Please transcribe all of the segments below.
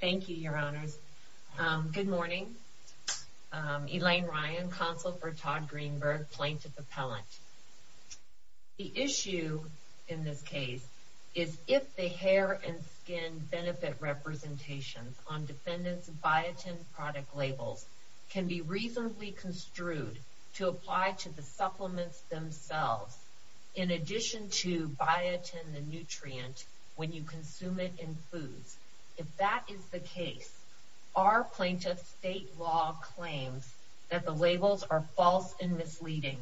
Thank you, Your Honors. Good morning. Elaine Ryan, Counsel for Todd Greenberg, Plaintiff Appellant. The issue in this case is if the hair and skin benefit representations on defendant's biotin product labels can be reasonably construed to apply to the supplements themselves in addition to biotin, the nutrient, when you consume it in foods. If that is the case, are plaintiff's state law claims that the labels are false and misleading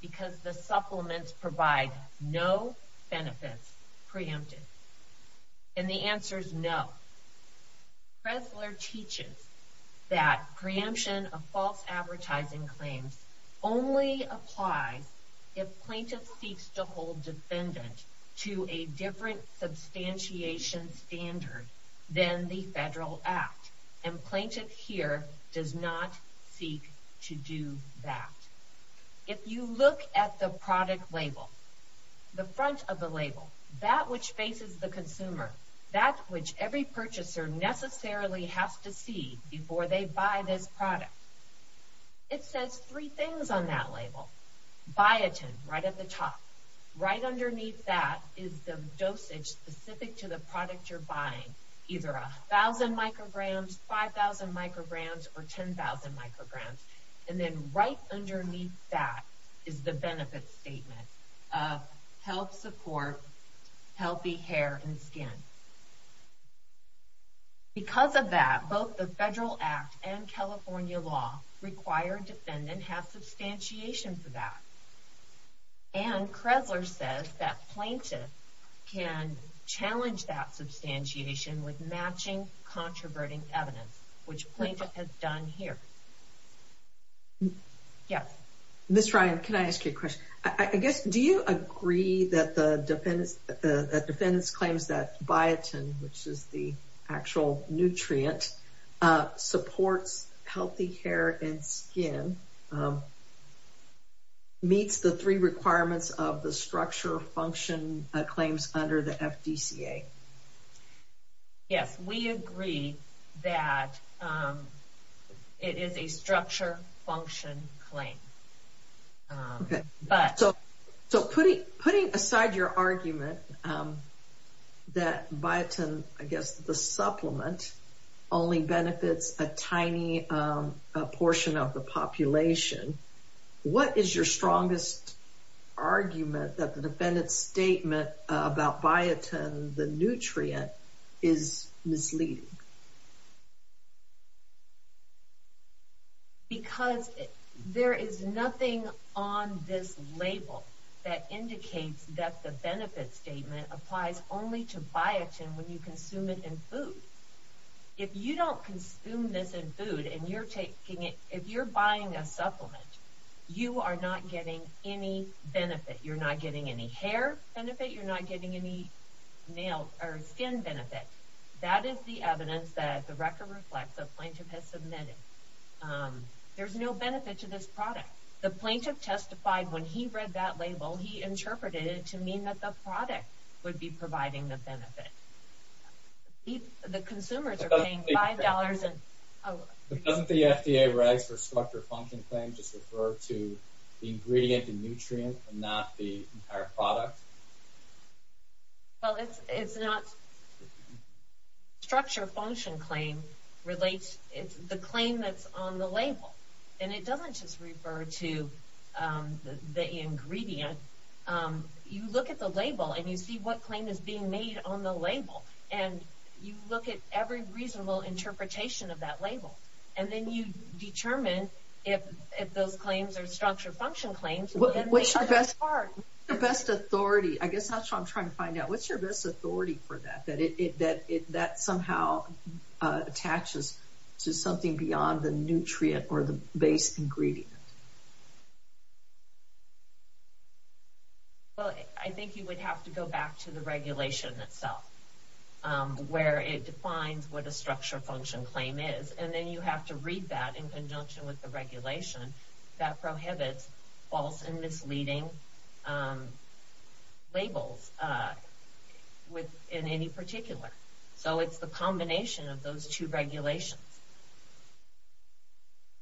because the supplements provide no benefits preempted? And the answer is no. Pressler teaches that preemption of false advertising claims only applies if plaintiff seeks to hold defendant to a different substantiation standard than the federal act. And plaintiff here does not seek to do that. If you look at the product label, the front of the label, that which faces the consumer, that which every purchaser necessarily has to see before they buy this product, it says three things on that label. Biotin, right at the top. Right underneath that is the dosage specific to the product you're buying. Either 1,000 micrograms, 5,000 micrograms, or 10,000 micrograms. And then right underneath that is the benefit statement of health support, healthy hair and skin. Because of that, both the federal act and California law require defendant to have substantiation for that. And Pressler says that plaintiff can challenge that substantiation with matching controverting evidence, which plaintiff has done here. Ms. Ryan, can I ask you a question? I guess, do you agree that the defendant's claims that biotin, which is the actual nutrient, supports healthy hair and skin meets the three requirements of the structure function claims under the FDCA? Yes, we agree that it is a structure function claim. So, putting aside your argument that biotin, I guess the supplement, only benefits a tiny portion of the population, what is your strongest argument that the defendant's statement about biotin, the nutrient, is misleading? Because there is nothing on this label that indicates that the benefit statement applies only to biotin when you consume it in food. If you don't consume this in food, and you're buying a supplement, you are not getting any benefit. You're not getting any hair benefit, you're not getting any skin benefit. That is the evidence that the record reflects that the plaintiff has submitted. There's no benefit to this product. The plaintiff testified when he read that label, he interpreted it to mean that the product would be providing the benefit. The consumers are paying $5. Doesn't the FDA rights for structure function claims just refer to the ingredient and nutrient and not the entire product? Well, it's not structure function claim relates, it's the claim that's on the label. And it doesn't just refer to the ingredient. You look at the label and you see what claim is being made on the label. And you look at every reasonable interpretation of that label. And then you determine if those claims are structure function claims. What's your best authority? I guess that's what I'm trying to find out. What's your best authority for that? That somehow attaches to something beyond the nutrient or the base ingredient. Well, I think you would have to go back to the regulation itself where it defines what a structure function claim is. And then you have to read that in conjunction with the regulation that prohibits false and misleading labels in any particular. So it's the combination of those two regulations.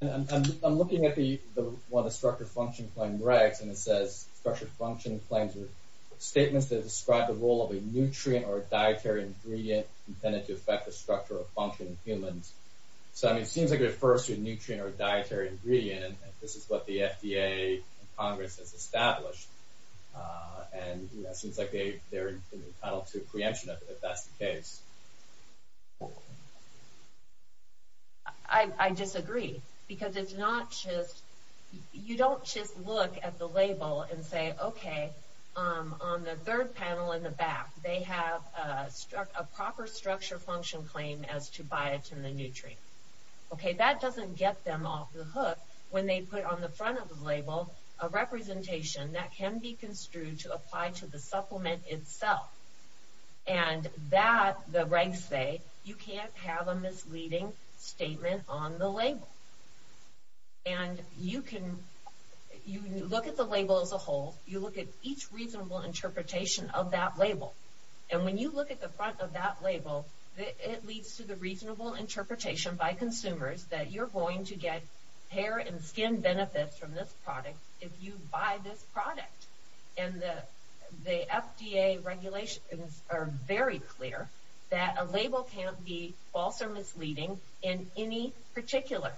I'm looking at one of the structure function claim regs. And it says structure function claims are statements that describe the role of a nutrient or dietary ingredient intended to affect the structure or function of humans. So it seems like it refers to a nutrient or dietary ingredient. And this is what the FDA and Congress has established. And it seems like they're entitled to a preemption if that's the case. I disagree. Because it's not just... You don't just look at the label and say, okay, on the third panel in the back, they have a proper structure function claim as to biotin the nutrient. Okay, that doesn't get them off the hook when they put on the front of the label a representation that can be construed to apply to the supplement itself. And that, the regs say, you can't have a misleading statement on the label. And you can... You look at the label as a whole. You look at each reasonable interpretation of that label. And when you look at the front of that label, it leads to the reasonable interpretation by consumers that you're going to get hair and skin benefits from this product if you buy this product. And the FDA regulations are very clear that a label can't be false or misleading in any particular.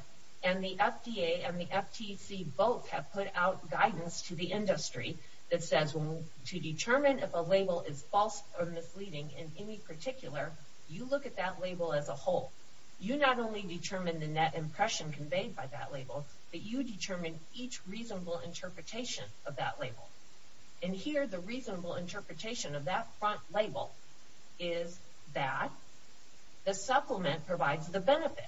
And the FDA and the FTC both have put out guidance to the industry that says to determine if a label is false or misleading in any particular, you look at that label as a whole. You not only determine the net impression conveyed by that label, but you determine each reasonable interpretation of that label. And here the reasonable interpretation of that front label is that the supplement provides the benefit.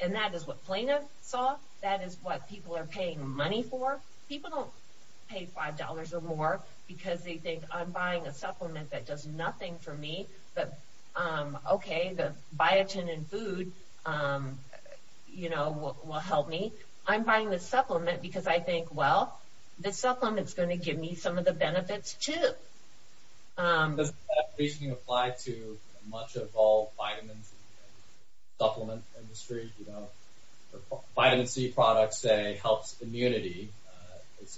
And that is what Plano saw. That is what people are paying money for. People don't pay $5 or more because they think I'm buying a supplement that does nothing for me. Okay, the biotin in food, you know, will help me. I'm buying this supplement because I think, well, this supplement is going to give me some of the benefits too. Does that reasoning apply to much of all vitamins and supplement industry? You know, vitamin C products say helps immunity.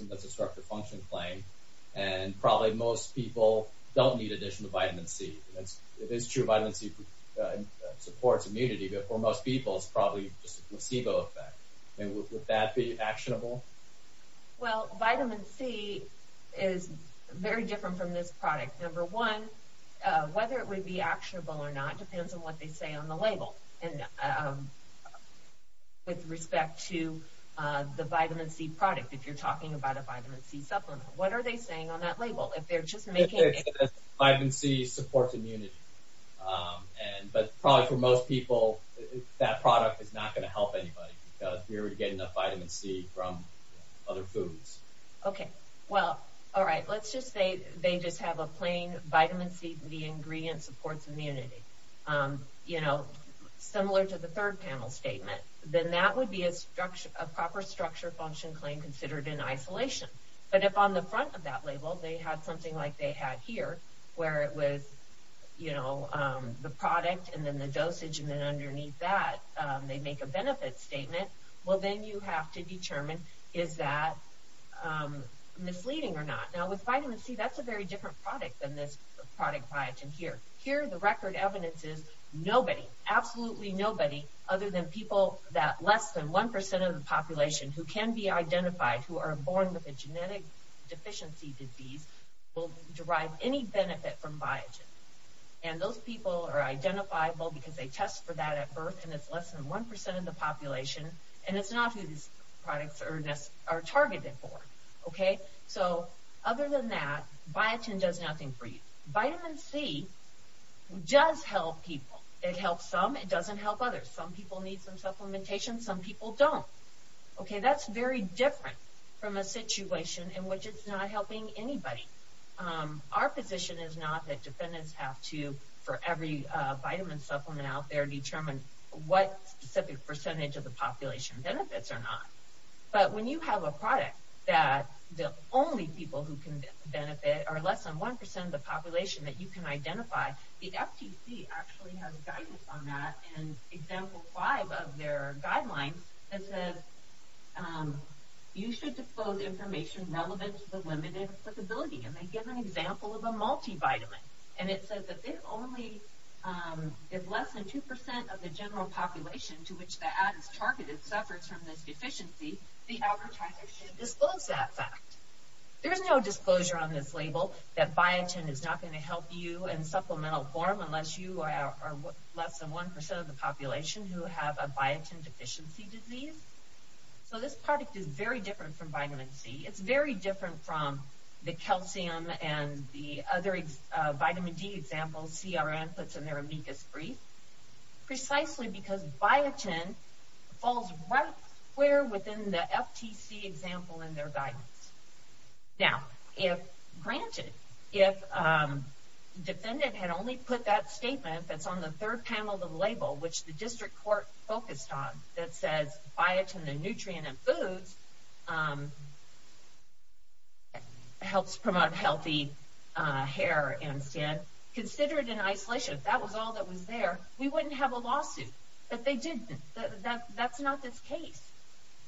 That's a structure function claim. And probably most people don't need addition to vitamin C. It is true vitamin C supports immunity, but for most people it's probably just a placebo effect. Would that be actionable? Well, vitamin C is very different from this product. Number one, whether it would be actionable or not depends on what they say on the label. And with respect to the vitamin C product, if you're talking about a vitamin C supplement, what are they saying on that label? Vitamin C supports immunity. But probably for most people, that product is not going to help anybody because we're getting enough vitamin C from other foods. Okay, well, alright, let's just say they just have a plain vitamin C, the ingredient supports immunity. You know, similar to the third panel statement. Then that would be a proper structure function claim considered in isolation. But if on the front of that label they had something like they had here, where it was, you know, the product and then the dosage, and then underneath that they make a benefit statement, well then you have to determine is that misleading or not. Now with vitamin C, that's a very different product than this product biotin here. Here the record evidence is nobody, absolutely nobody other than people that less than 1% of the population who can be identified, who are born with a genetic deficiency disease will derive any benefit from biotin. And those people are identifiable because they test for that at birth and it's less than 1% of the population and it's not who these products are targeted for. Okay, so other than that, biotin does nothing for you. Vitamin C does help people. It helps some, it doesn't help others. Some people need some supplementation, some people don't. Okay, that's very different from a situation in which it's not helping anybody. Our position is not that defendants have to, for every vitamin supplement out there, determine what specific percentage of the population benefits or not. But when you have a product that the only people who can benefit are less than 1% of the population that you can identify, the FTC actually has guidance on that in example 5 of their guidelines. It says you should disclose information relevant to the limited applicability. And they give an example of a multivitamin. And it says that if less than 2% of the general population to which the ad is targeted suffers from this deficiency, the advertiser should disclose that fact. There's no disclosure on this label that biotin is not going to help you in supplemental form unless you are less than 1% of the population who have a biotin deficiency disease. So this product is very different from vitamin C. It's very different from the calcium and the other vitamin D examples CRM puts in their amicus brief, precisely because biotin falls right where within the FTC example in their guidance. Now, if granted, if the defendant had only put that statement that's on the third panel of the label, which the district court focused on, that says biotin, the nutrient in foods, helps promote healthy hair and skin, consider it in isolation. If that was all that was there, we wouldn't have a lawsuit. But they didn't. That's not this case.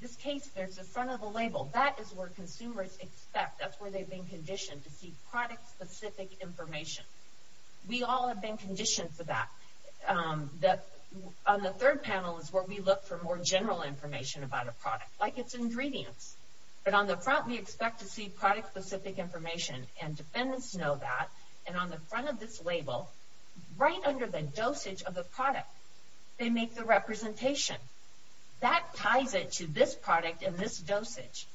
This case, there's a front of the label. That is where consumers expect. That's where they've been conditioned to see product-specific information. We all have been conditioned for that. On the third panel is where we look for more general information about a product, like its ingredients. But on the front, we expect to see product-specific information. And defendants know that. And on the front of this label, right under the dosage of the product, they make the representation. That ties it to this product and this dosage.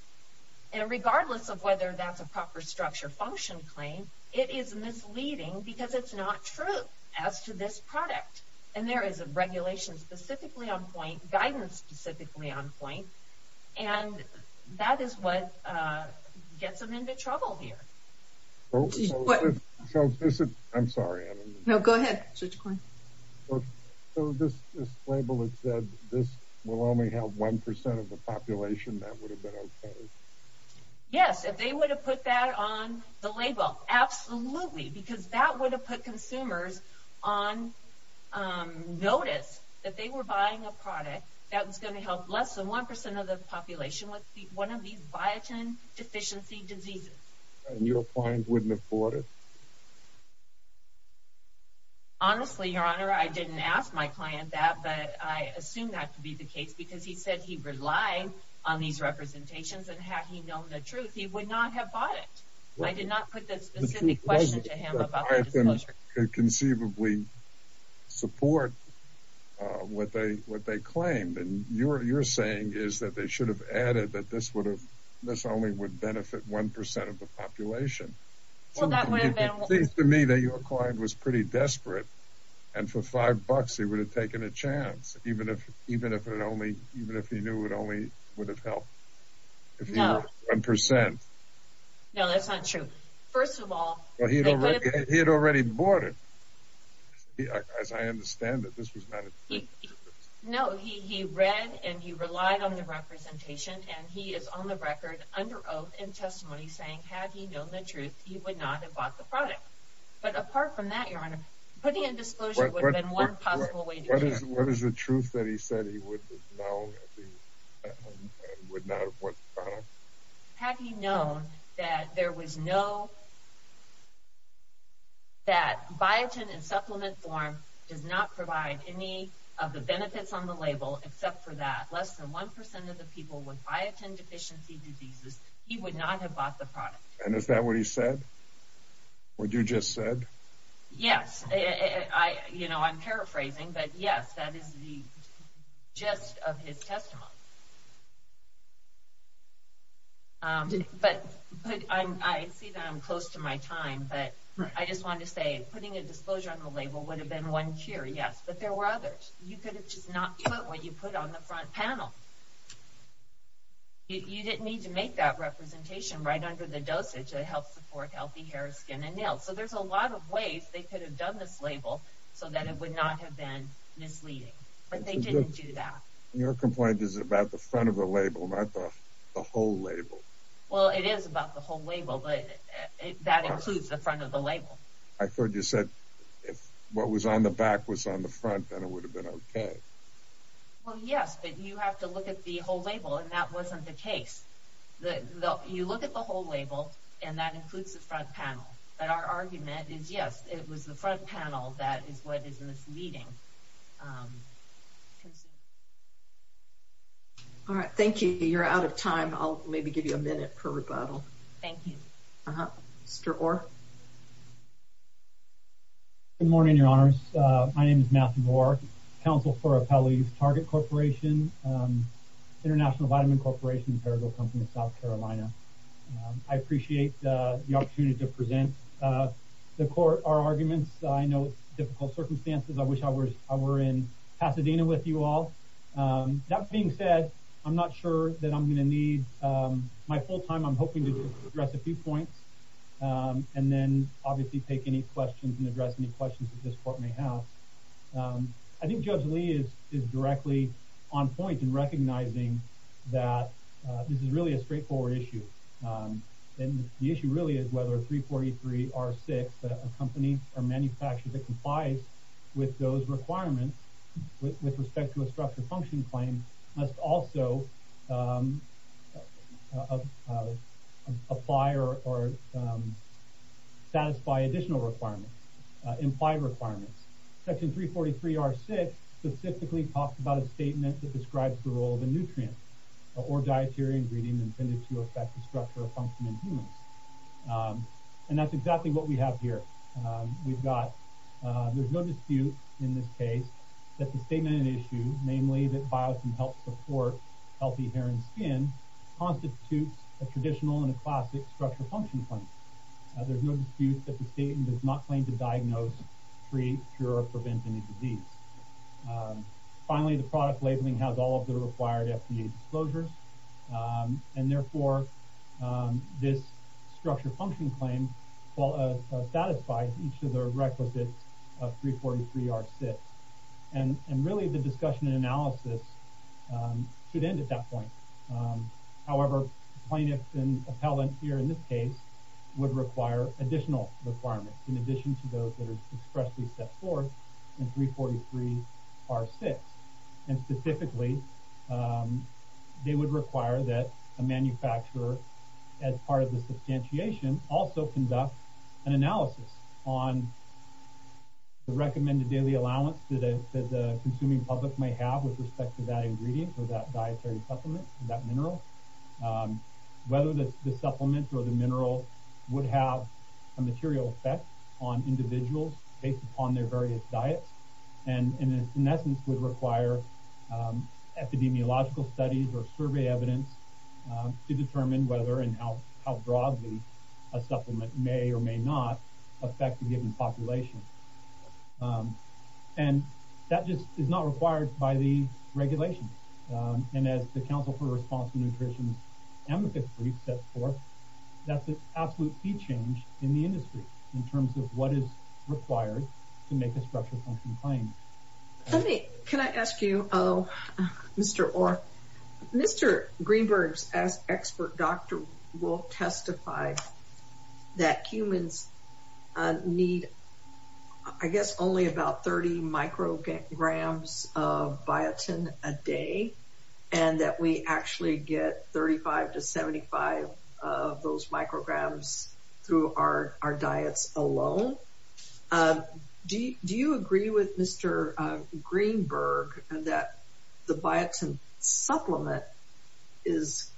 And regardless of whether that's a proper structure function claim, it is misleading because it's not true as to this product. And there is a regulation specifically on point, guidance specifically on point, and that is what gets them into trouble here. I'm sorry. No, go ahead, Judge Coyne. So this label has said this will only help 1% of the population. That would have been okay. Yes, if they would have put that on the label, absolutely. Because that would have put consumers on notice that they were buying a product that was going to help less than 1% of the population with one of these biotin deficiency diseases. And your client wouldn't have bought it? Honestly, Your Honor, I didn't ask my client that. But I assume that to be the case because he said he relied on these representations. And had he known the truth, he would not have bought it. I did not put that specific question to him about the disclosure. I can conceivably support what they claimed. And what you're saying is that they should have added that this only would benefit 1% of the population. It seems to me that your client was pretty desperate. And for $5, he would have taken a chance, even if he knew it only would have helped 1%. No, that's not true. First of all, he would have bought it. He had already bought it. As I understand it, this was not a cheap purchase. No, he read and he relied on the representation. And he is on the record under oath in testimony saying, had he known the truth, he would not have bought the product. But apart from that, Your Honor, putting a disclosure would have been one possible way to do that. What is the truth that he said he would not have bought the product? Had he known that biotin in supplement form does not provide any of the benefits on the label, except for that less than 1% of the people with biotin deficiency diseases, he would not have bought the product. And is that what he said? What you just said? Yes, I'm paraphrasing, but yes, that is the gist of his testimony. But I see that I'm close to my time, but I just wanted to say, putting a disclosure on the label would have been one cure, yes. But there were others. You could have just not put what you put on the front panel. You didn't need to make that representation right under the dosage that helps support healthy hair, skin, and nails. So there's a lot of ways they could have done this label so that it would not have been misleading. But they didn't do that. Your complaint is about the front of the label, not the whole label. Well, it is about the whole label, but that includes the front of the label. I thought you said if what was on the back was on the front, then it would have been okay. Well, yes, but you have to look at the whole label, and that wasn't the case. You look at the whole label, and that includes the front panel. But our argument is, yes, it was the front panel that is what is misleading. All right, thank you. You're out of time. I'll maybe give you a minute per rebuttal. Thank you. Mr. Orr. Good morning, Your Honors. My name is Matthew Orr, Counsel for Appellees, Target Corporation, International Vitamin Corporation, Perigold Company of South Carolina. I appreciate the opportunity to present our arguments. I know difficult circumstances. I wish I were in Pasadena with you all. That being said, I'm not sure that I'm going to need my full time. I'm hoping to address a few points and then obviously take any questions that you can address, any questions that this court may have. I think Judge Lee is directly on point in recognizing that this is really a straightforward issue. The issue really is whether 343R6, a company or manufacturer that complies with those requirements with respect to a structure function claim, must also apply or satisfy additional requirements, implied requirements. Section 343R6 specifically talks about a statement that describes the role of a nutrient or dietary ingredient intended to affect the structure of function in humans. And that's exactly what we have here. We've got, there's no dispute in this case that the statement in issue, namely that biotin helps support healthy hair and skin, constitutes a traditional and a classic structure function claim. There's no dispute that the statement does not claim to diagnose, treat, cure, or prevent any disease. Finally, the product labeling has all of the required FDA disclosures. And therefore, this structure function claim satisfies each of the requisites of 343R6. And really, the discussion and analysis should end at that point. However, plaintiffs and appellants here in this case would require additional requirements in addition to those that are expressly set forth in 343R6. And specifically, they would require that a manufacturer as part of the consuming public may have with respect to that ingredient or that dietary supplement, that mineral. Whether the supplement or the mineral would have a material effect on individuals based upon their various diets. And in essence, would require epidemiological studies or survey evidence to determine whether and how broadly a supplement may or may not affect a given population. And that just is not required by the regulation. And as the Council for Responsible Nutrition's amicus brief sets forth, that's an absolute key change in the industry in terms of what is required to make a structure function claim. Can I ask you, Mr. Orr, Mr. Greenberg's expert doctor will testify that humans need, I guess, only about 30 micrograms of biotin a day. And that we actually get 35 to 75 of those micrograms through our diets alone. Do you agree with Mr. Greenberg that the biotin supplement is,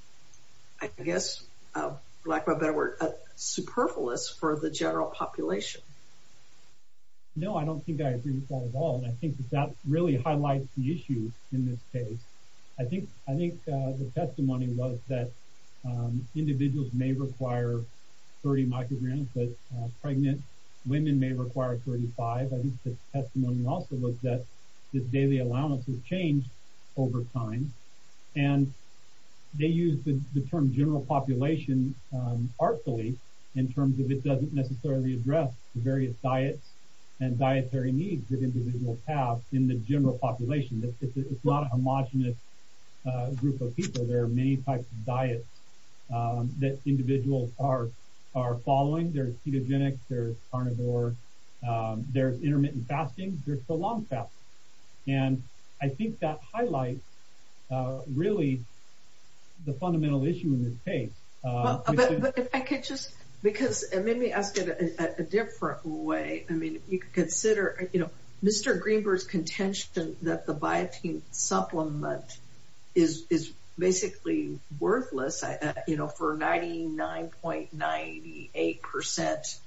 I guess, for lack of a better word, a general population? No, I don't think I agree with that at all. And I think that that really highlights the issue in this case. I think the testimony was that individuals may require 30 micrograms, but pregnant women may require 35. I think the testimony also was that this daily allowance has changed over time. And they use the term general population artfully in terms of it doesn't necessarily address the various diets and dietary needs that individuals have in the general population. It's not a homogenous group of people. There are many types of diets that individuals are following. There's ketogenic, there's carnivore, there's intermittent fasting, there's prolonged fasting. And I think that highlights really the fundamental issue in this case. But I could just, because it made me ask it a different way. I mean, if you could consider, you know, Mr. Greenberg's contention that the biotin supplement is basically worthless, you know, for 99.98%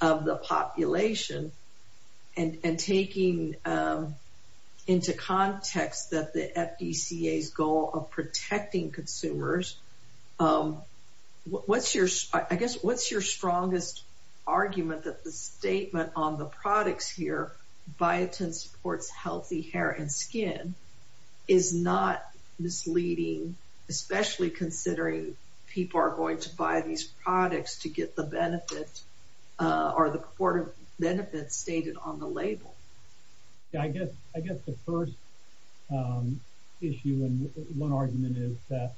of the population and taking into context that the FDCA's goal of protecting consumers, I guess what's your strongest argument that the statement on the products here, biotin supports healthy hair and skin, is not misleading, especially considering people are going to buy these products to get the benefit or the port of benefits stated on the label? Yeah, I guess the first issue and one argument is that,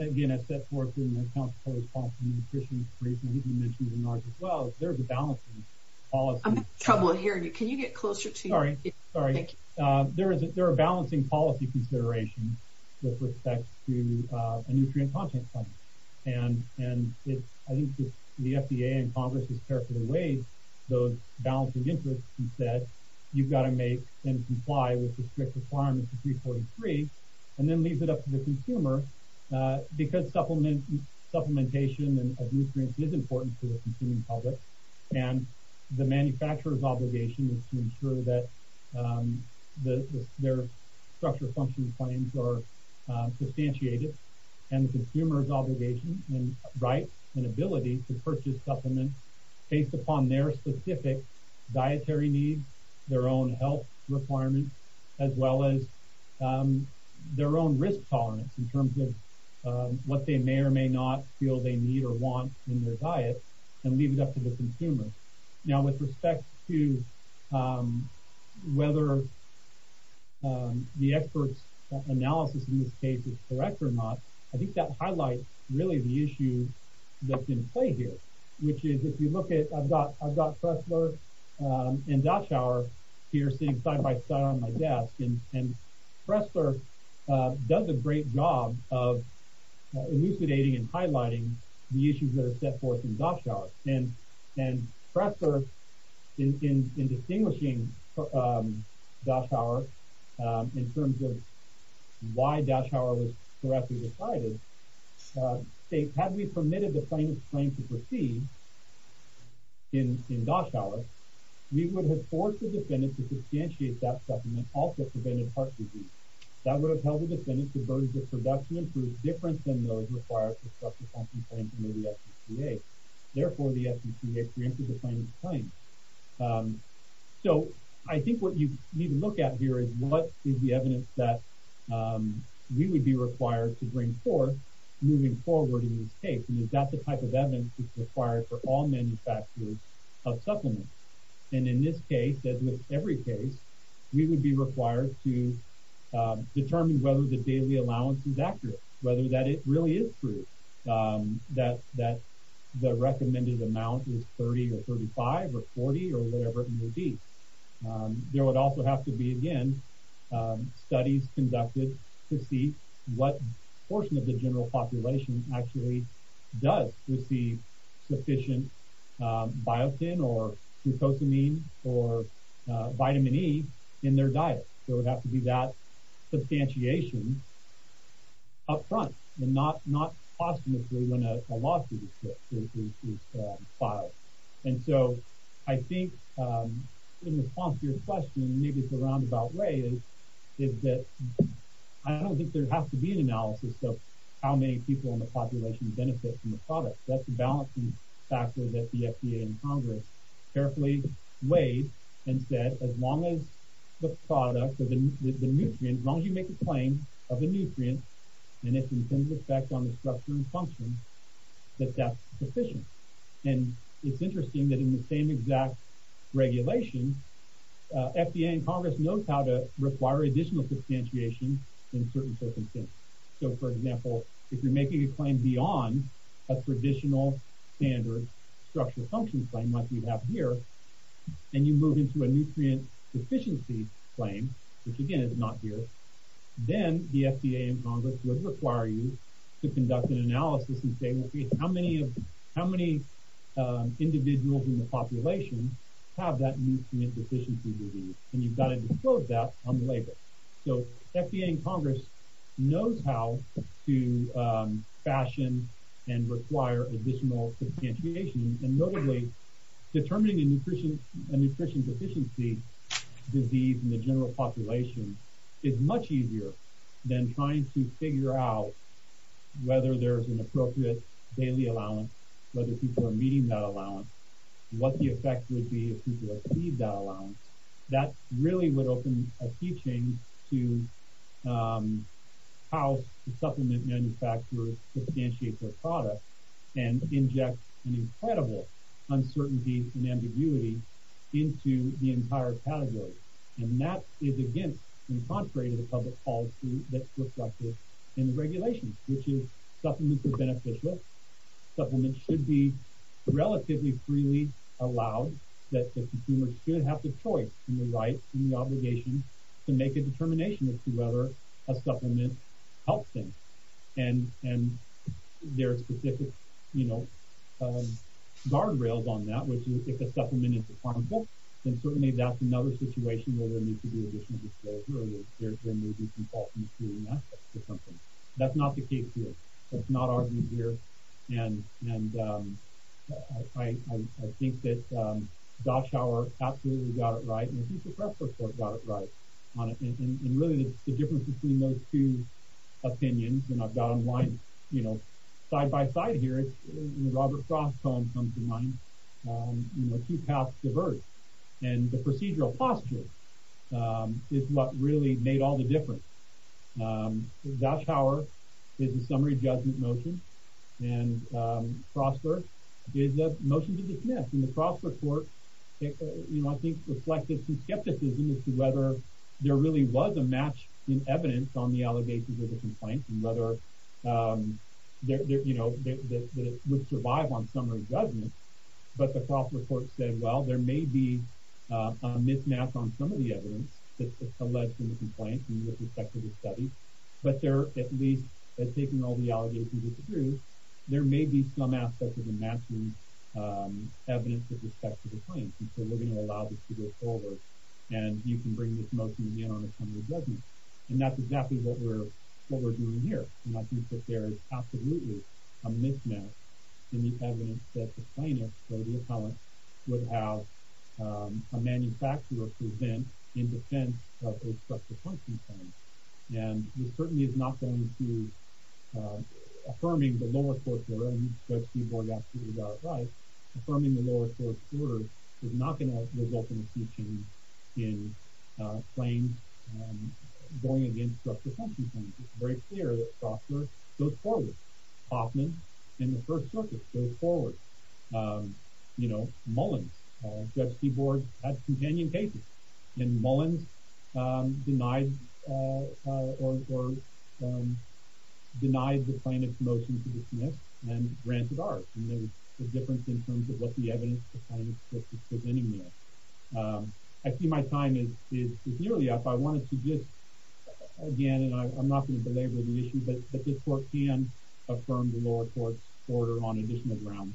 again, it's set forth in the Council for Responsible Nutrition's brief, and I think you mentioned in yours as well, there's a balancing policy. I'm having trouble hearing you. Can you get closer to your mic? Sorry. Thank you. There are balancing policy considerations with respect to a nutrient content and I think the FDA and Congress has characterized those balancing interests and said you've got to make them comply with the strict requirements of 343 and then leave it up to the consumer because supplementation of nutrients is important to the consuming public, and the manufacturer's obligation is to ensure that their structural function claims are substantiated and the consumer's obligation and right and ability to purchase supplements based upon their specific dietary needs, their own health requirements, as well as their own risk tolerance in terms of what they may or may not feel they need or want in their diet and leave it up to the consumer. Now, with respect to whether the expert's analysis in this case is correct or not, I think that highlights really the issue that's in play here, which is if you look at I've got Pressler and Doshauer here sitting side by side on my desk and Pressler does a great job of elucidating and highlighting the issues that are set forth in Doshauer and Pressler, in distinguishing Doshauer in terms of why Doshauer was correctly decided, had we permitted the claim to proceed in Doshauer, we would have forced the defendant to substantiate that supplement also preventing heart disease. That would have held the defendant to burdens of production and the supplement proved different than those required for substance consumption claims under the FDCA. Therefore, the FDCA preempted the plaintiff's claim. So I think what you need to look at here is what is the evidence that we would be required to bring forth moving forward in this case, and is that the type of evidence that's required for all manufacturers of supplements? And in this case, as with every case, we would be required to determine whether the daily allowance is accurate, whether that really is true, that the recommended amount is 30 or 35 or 40 or whatever it may be. There would also have to be, again, studies conducted to see what portion of the general population actually does receive sufficient biotin or glucosamine or vitamin E in their diet. There would have to be that substantiation up front and not posthumously when a lawsuit is filed. And so I think in response to your question, maybe it's a roundabout way, is that I don't think there has to be an analysis of how many people in the population benefit from the product. That's a balancing factor that the FDA and Congress carefully weighed and said as long as the product or the nutrient, as long as you make a claim of a nutrient and its intended effect on the structure and function, that that's sufficient. And it's interesting that in the same exact regulation, FDA and Congress know how to require additional substantiation in certain circumstances. So, for example, if you're making a claim beyond a traditional standard structural function claim like we have here, and you move into a nutrient deficiency claim, which again is not here, then the FDA and Congress would require you to conduct an analysis and say how many individuals in the population have that nutrient deficiency disease, and you've got to disclose that on the label. So FDA and Congress knows how to fashion and require additional substantiation, and notably determining a nutrient deficiency disease in the general population is much easier than trying to figure out whether there's an appropriate daily allowance, whether people are meeting that allowance, what the effect would be if people achieved that allowance. That really would open a teaching to how supplement manufacturers substantiate their product and inject an incredible uncertainty and ambiguity into the entire category. And that is against and contrary to the public policy that's reflected in the regulations, which is supplements are beneficial, supplements should be relatively freely allowed, that the consumer should have the choice and the right and the obligation to make a determination as to whether a supplement helps them. And there are specific guardrails on that, which is if a supplement is harmful, then certainly that's another situation where there needs to be additional disclosure or there may be some fault in access to something. That's not the case here. That's not our view here, and I think that Doshauer absolutely got it right and I think the Press Report got it right on it. And really the difference between those two opinions, and I've got them lined side-by-side here, Robert Frost's column comes to mind, two paths diverge, and the procedural posture is what really made all the difference. Doshauer is a summary judgment motion, and Frostburg is a motion to dismiss. And the Frost Report, I think, reflected some skepticism as to whether there really was a match in evidence on the allegations of the complaint and whether it would survive on summary judgment. But the Frost Report said, well, there may be a mismatch on some of the evidence that's alleged in the complaint with respect to the study, but they're at least, taking all the allegations as the truth, there may be some aspect of a match in evidence with respect to the complaint. And so we're going to allow this to go forward, and you can bring this motion again on a summary judgment. And that's exactly what we're doing here. And I think that there is absolutely a mismatch in the evidence that the plaintiff, or the appellant, would have a manufacturer present in defense of respect to the complaint. And this certainly is not going to, affirming the lower-course order, and it's not going to result in a huge change in claims going against structural function claims. It's very clear that Stoffler goes forward. Hoffman, in the First Circuit, goes forward. Mullins, Judge Seaborg, had companion cases. And Mullins denied the plaintiff's motion to dismiss and granted ours. And there's a difference in terms of what the evidence is presenting there. I see my time is nearly up. I wanted to just, again, and I'm not going to belabor the issue, but this court can affirm the lower-course order on additional grounds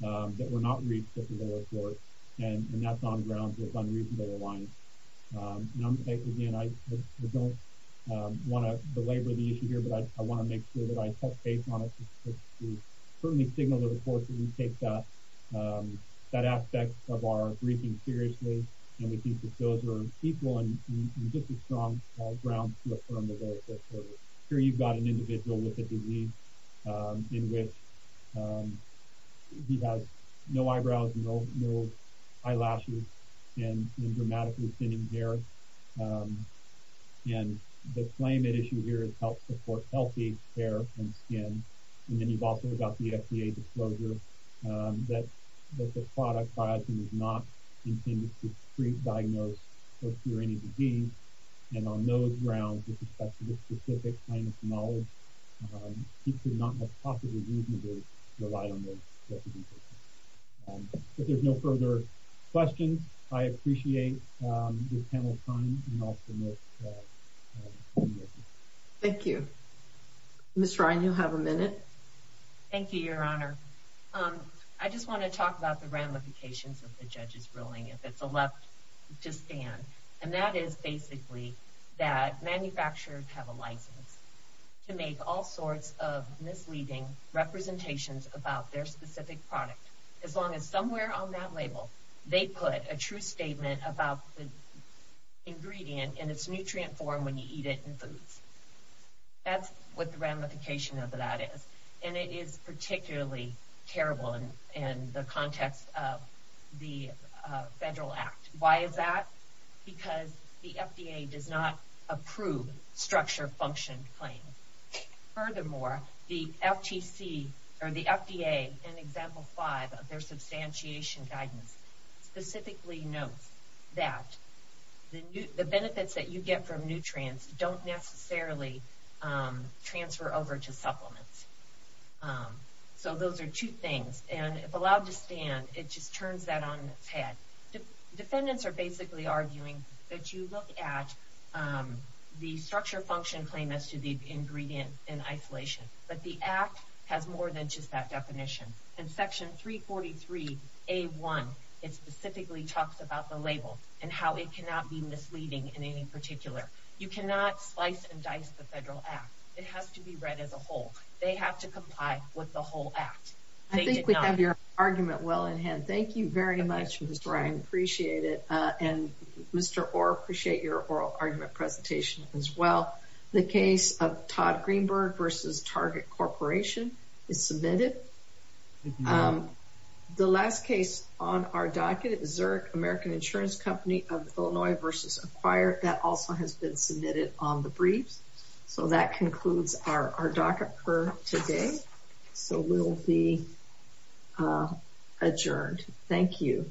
that were not reached at the lower court, and that's on grounds of unreasonable alliance. Again, I don't want to belabor the issue here, but I want to make sure that I reinforce that we take that aspect of our briefing seriously, and we think that those are equal and just as strong grounds to affirm the lower-course order. Here you've got an individual with a disease in which he has no eyebrows, no eyelashes, and dramatically thinning hair. And the claim at issue here is health support, healthy hair and skin. And then you've also got the FDA disclosure that this product, biotin, is not intended to treat, diagnose, or cure any disease. And on those grounds, with respect to this specific plaintiff's knowledge, he could not have possibly reasonably relied on those recommendations. If there's no further questions, I appreciate this panel's time and also Ms. Holmgren. Thank you. Ms. Ryan, you have a minute. Thank you, Your Honor. I just want to talk about the ramifications of the judge's ruling, if it's a left to stand. And that is basically that manufacturers have a license to make all sorts of misleading representations about their specific product, as long as somewhere on that label they put a true statement about the ingredient and its nutrient form when you eat it in foods. That's what the ramification of that is. And it is particularly terrible in the context of the federal act. Why is that? Because the FDA does not approve structure function claims. Furthermore, the FTC, or the FDA, in Example 5 of their substantiation guidance, specifically notes that the benefits that you get from nutrients don't necessarily transfer over to supplements. So those are two things. And if allowed to stand, it just turns that on its head. Defendants are basically arguing that you look at the structure function claim as to the ingredient in isolation. But the act has more than just that definition. In Section 343A1, it specifically talks about the label and how it cannot be misleading in any particular. You cannot slice and dice the federal act. It has to be read as a whole. They have to comply with the whole act. I think we have your argument well in hand. Thank you very much, Ms. Ryan. Appreciate it. And, Mr. Orr, appreciate your oral argument presentation as well. The case of Todd Greenberg v. Target Corporation is submitted. The last case on our docket, Zurich American Insurance Company of Illinois v. Acquired, that also has been submitted on the briefs. So that concludes our docket for today. So we'll be adjourned. Thank you.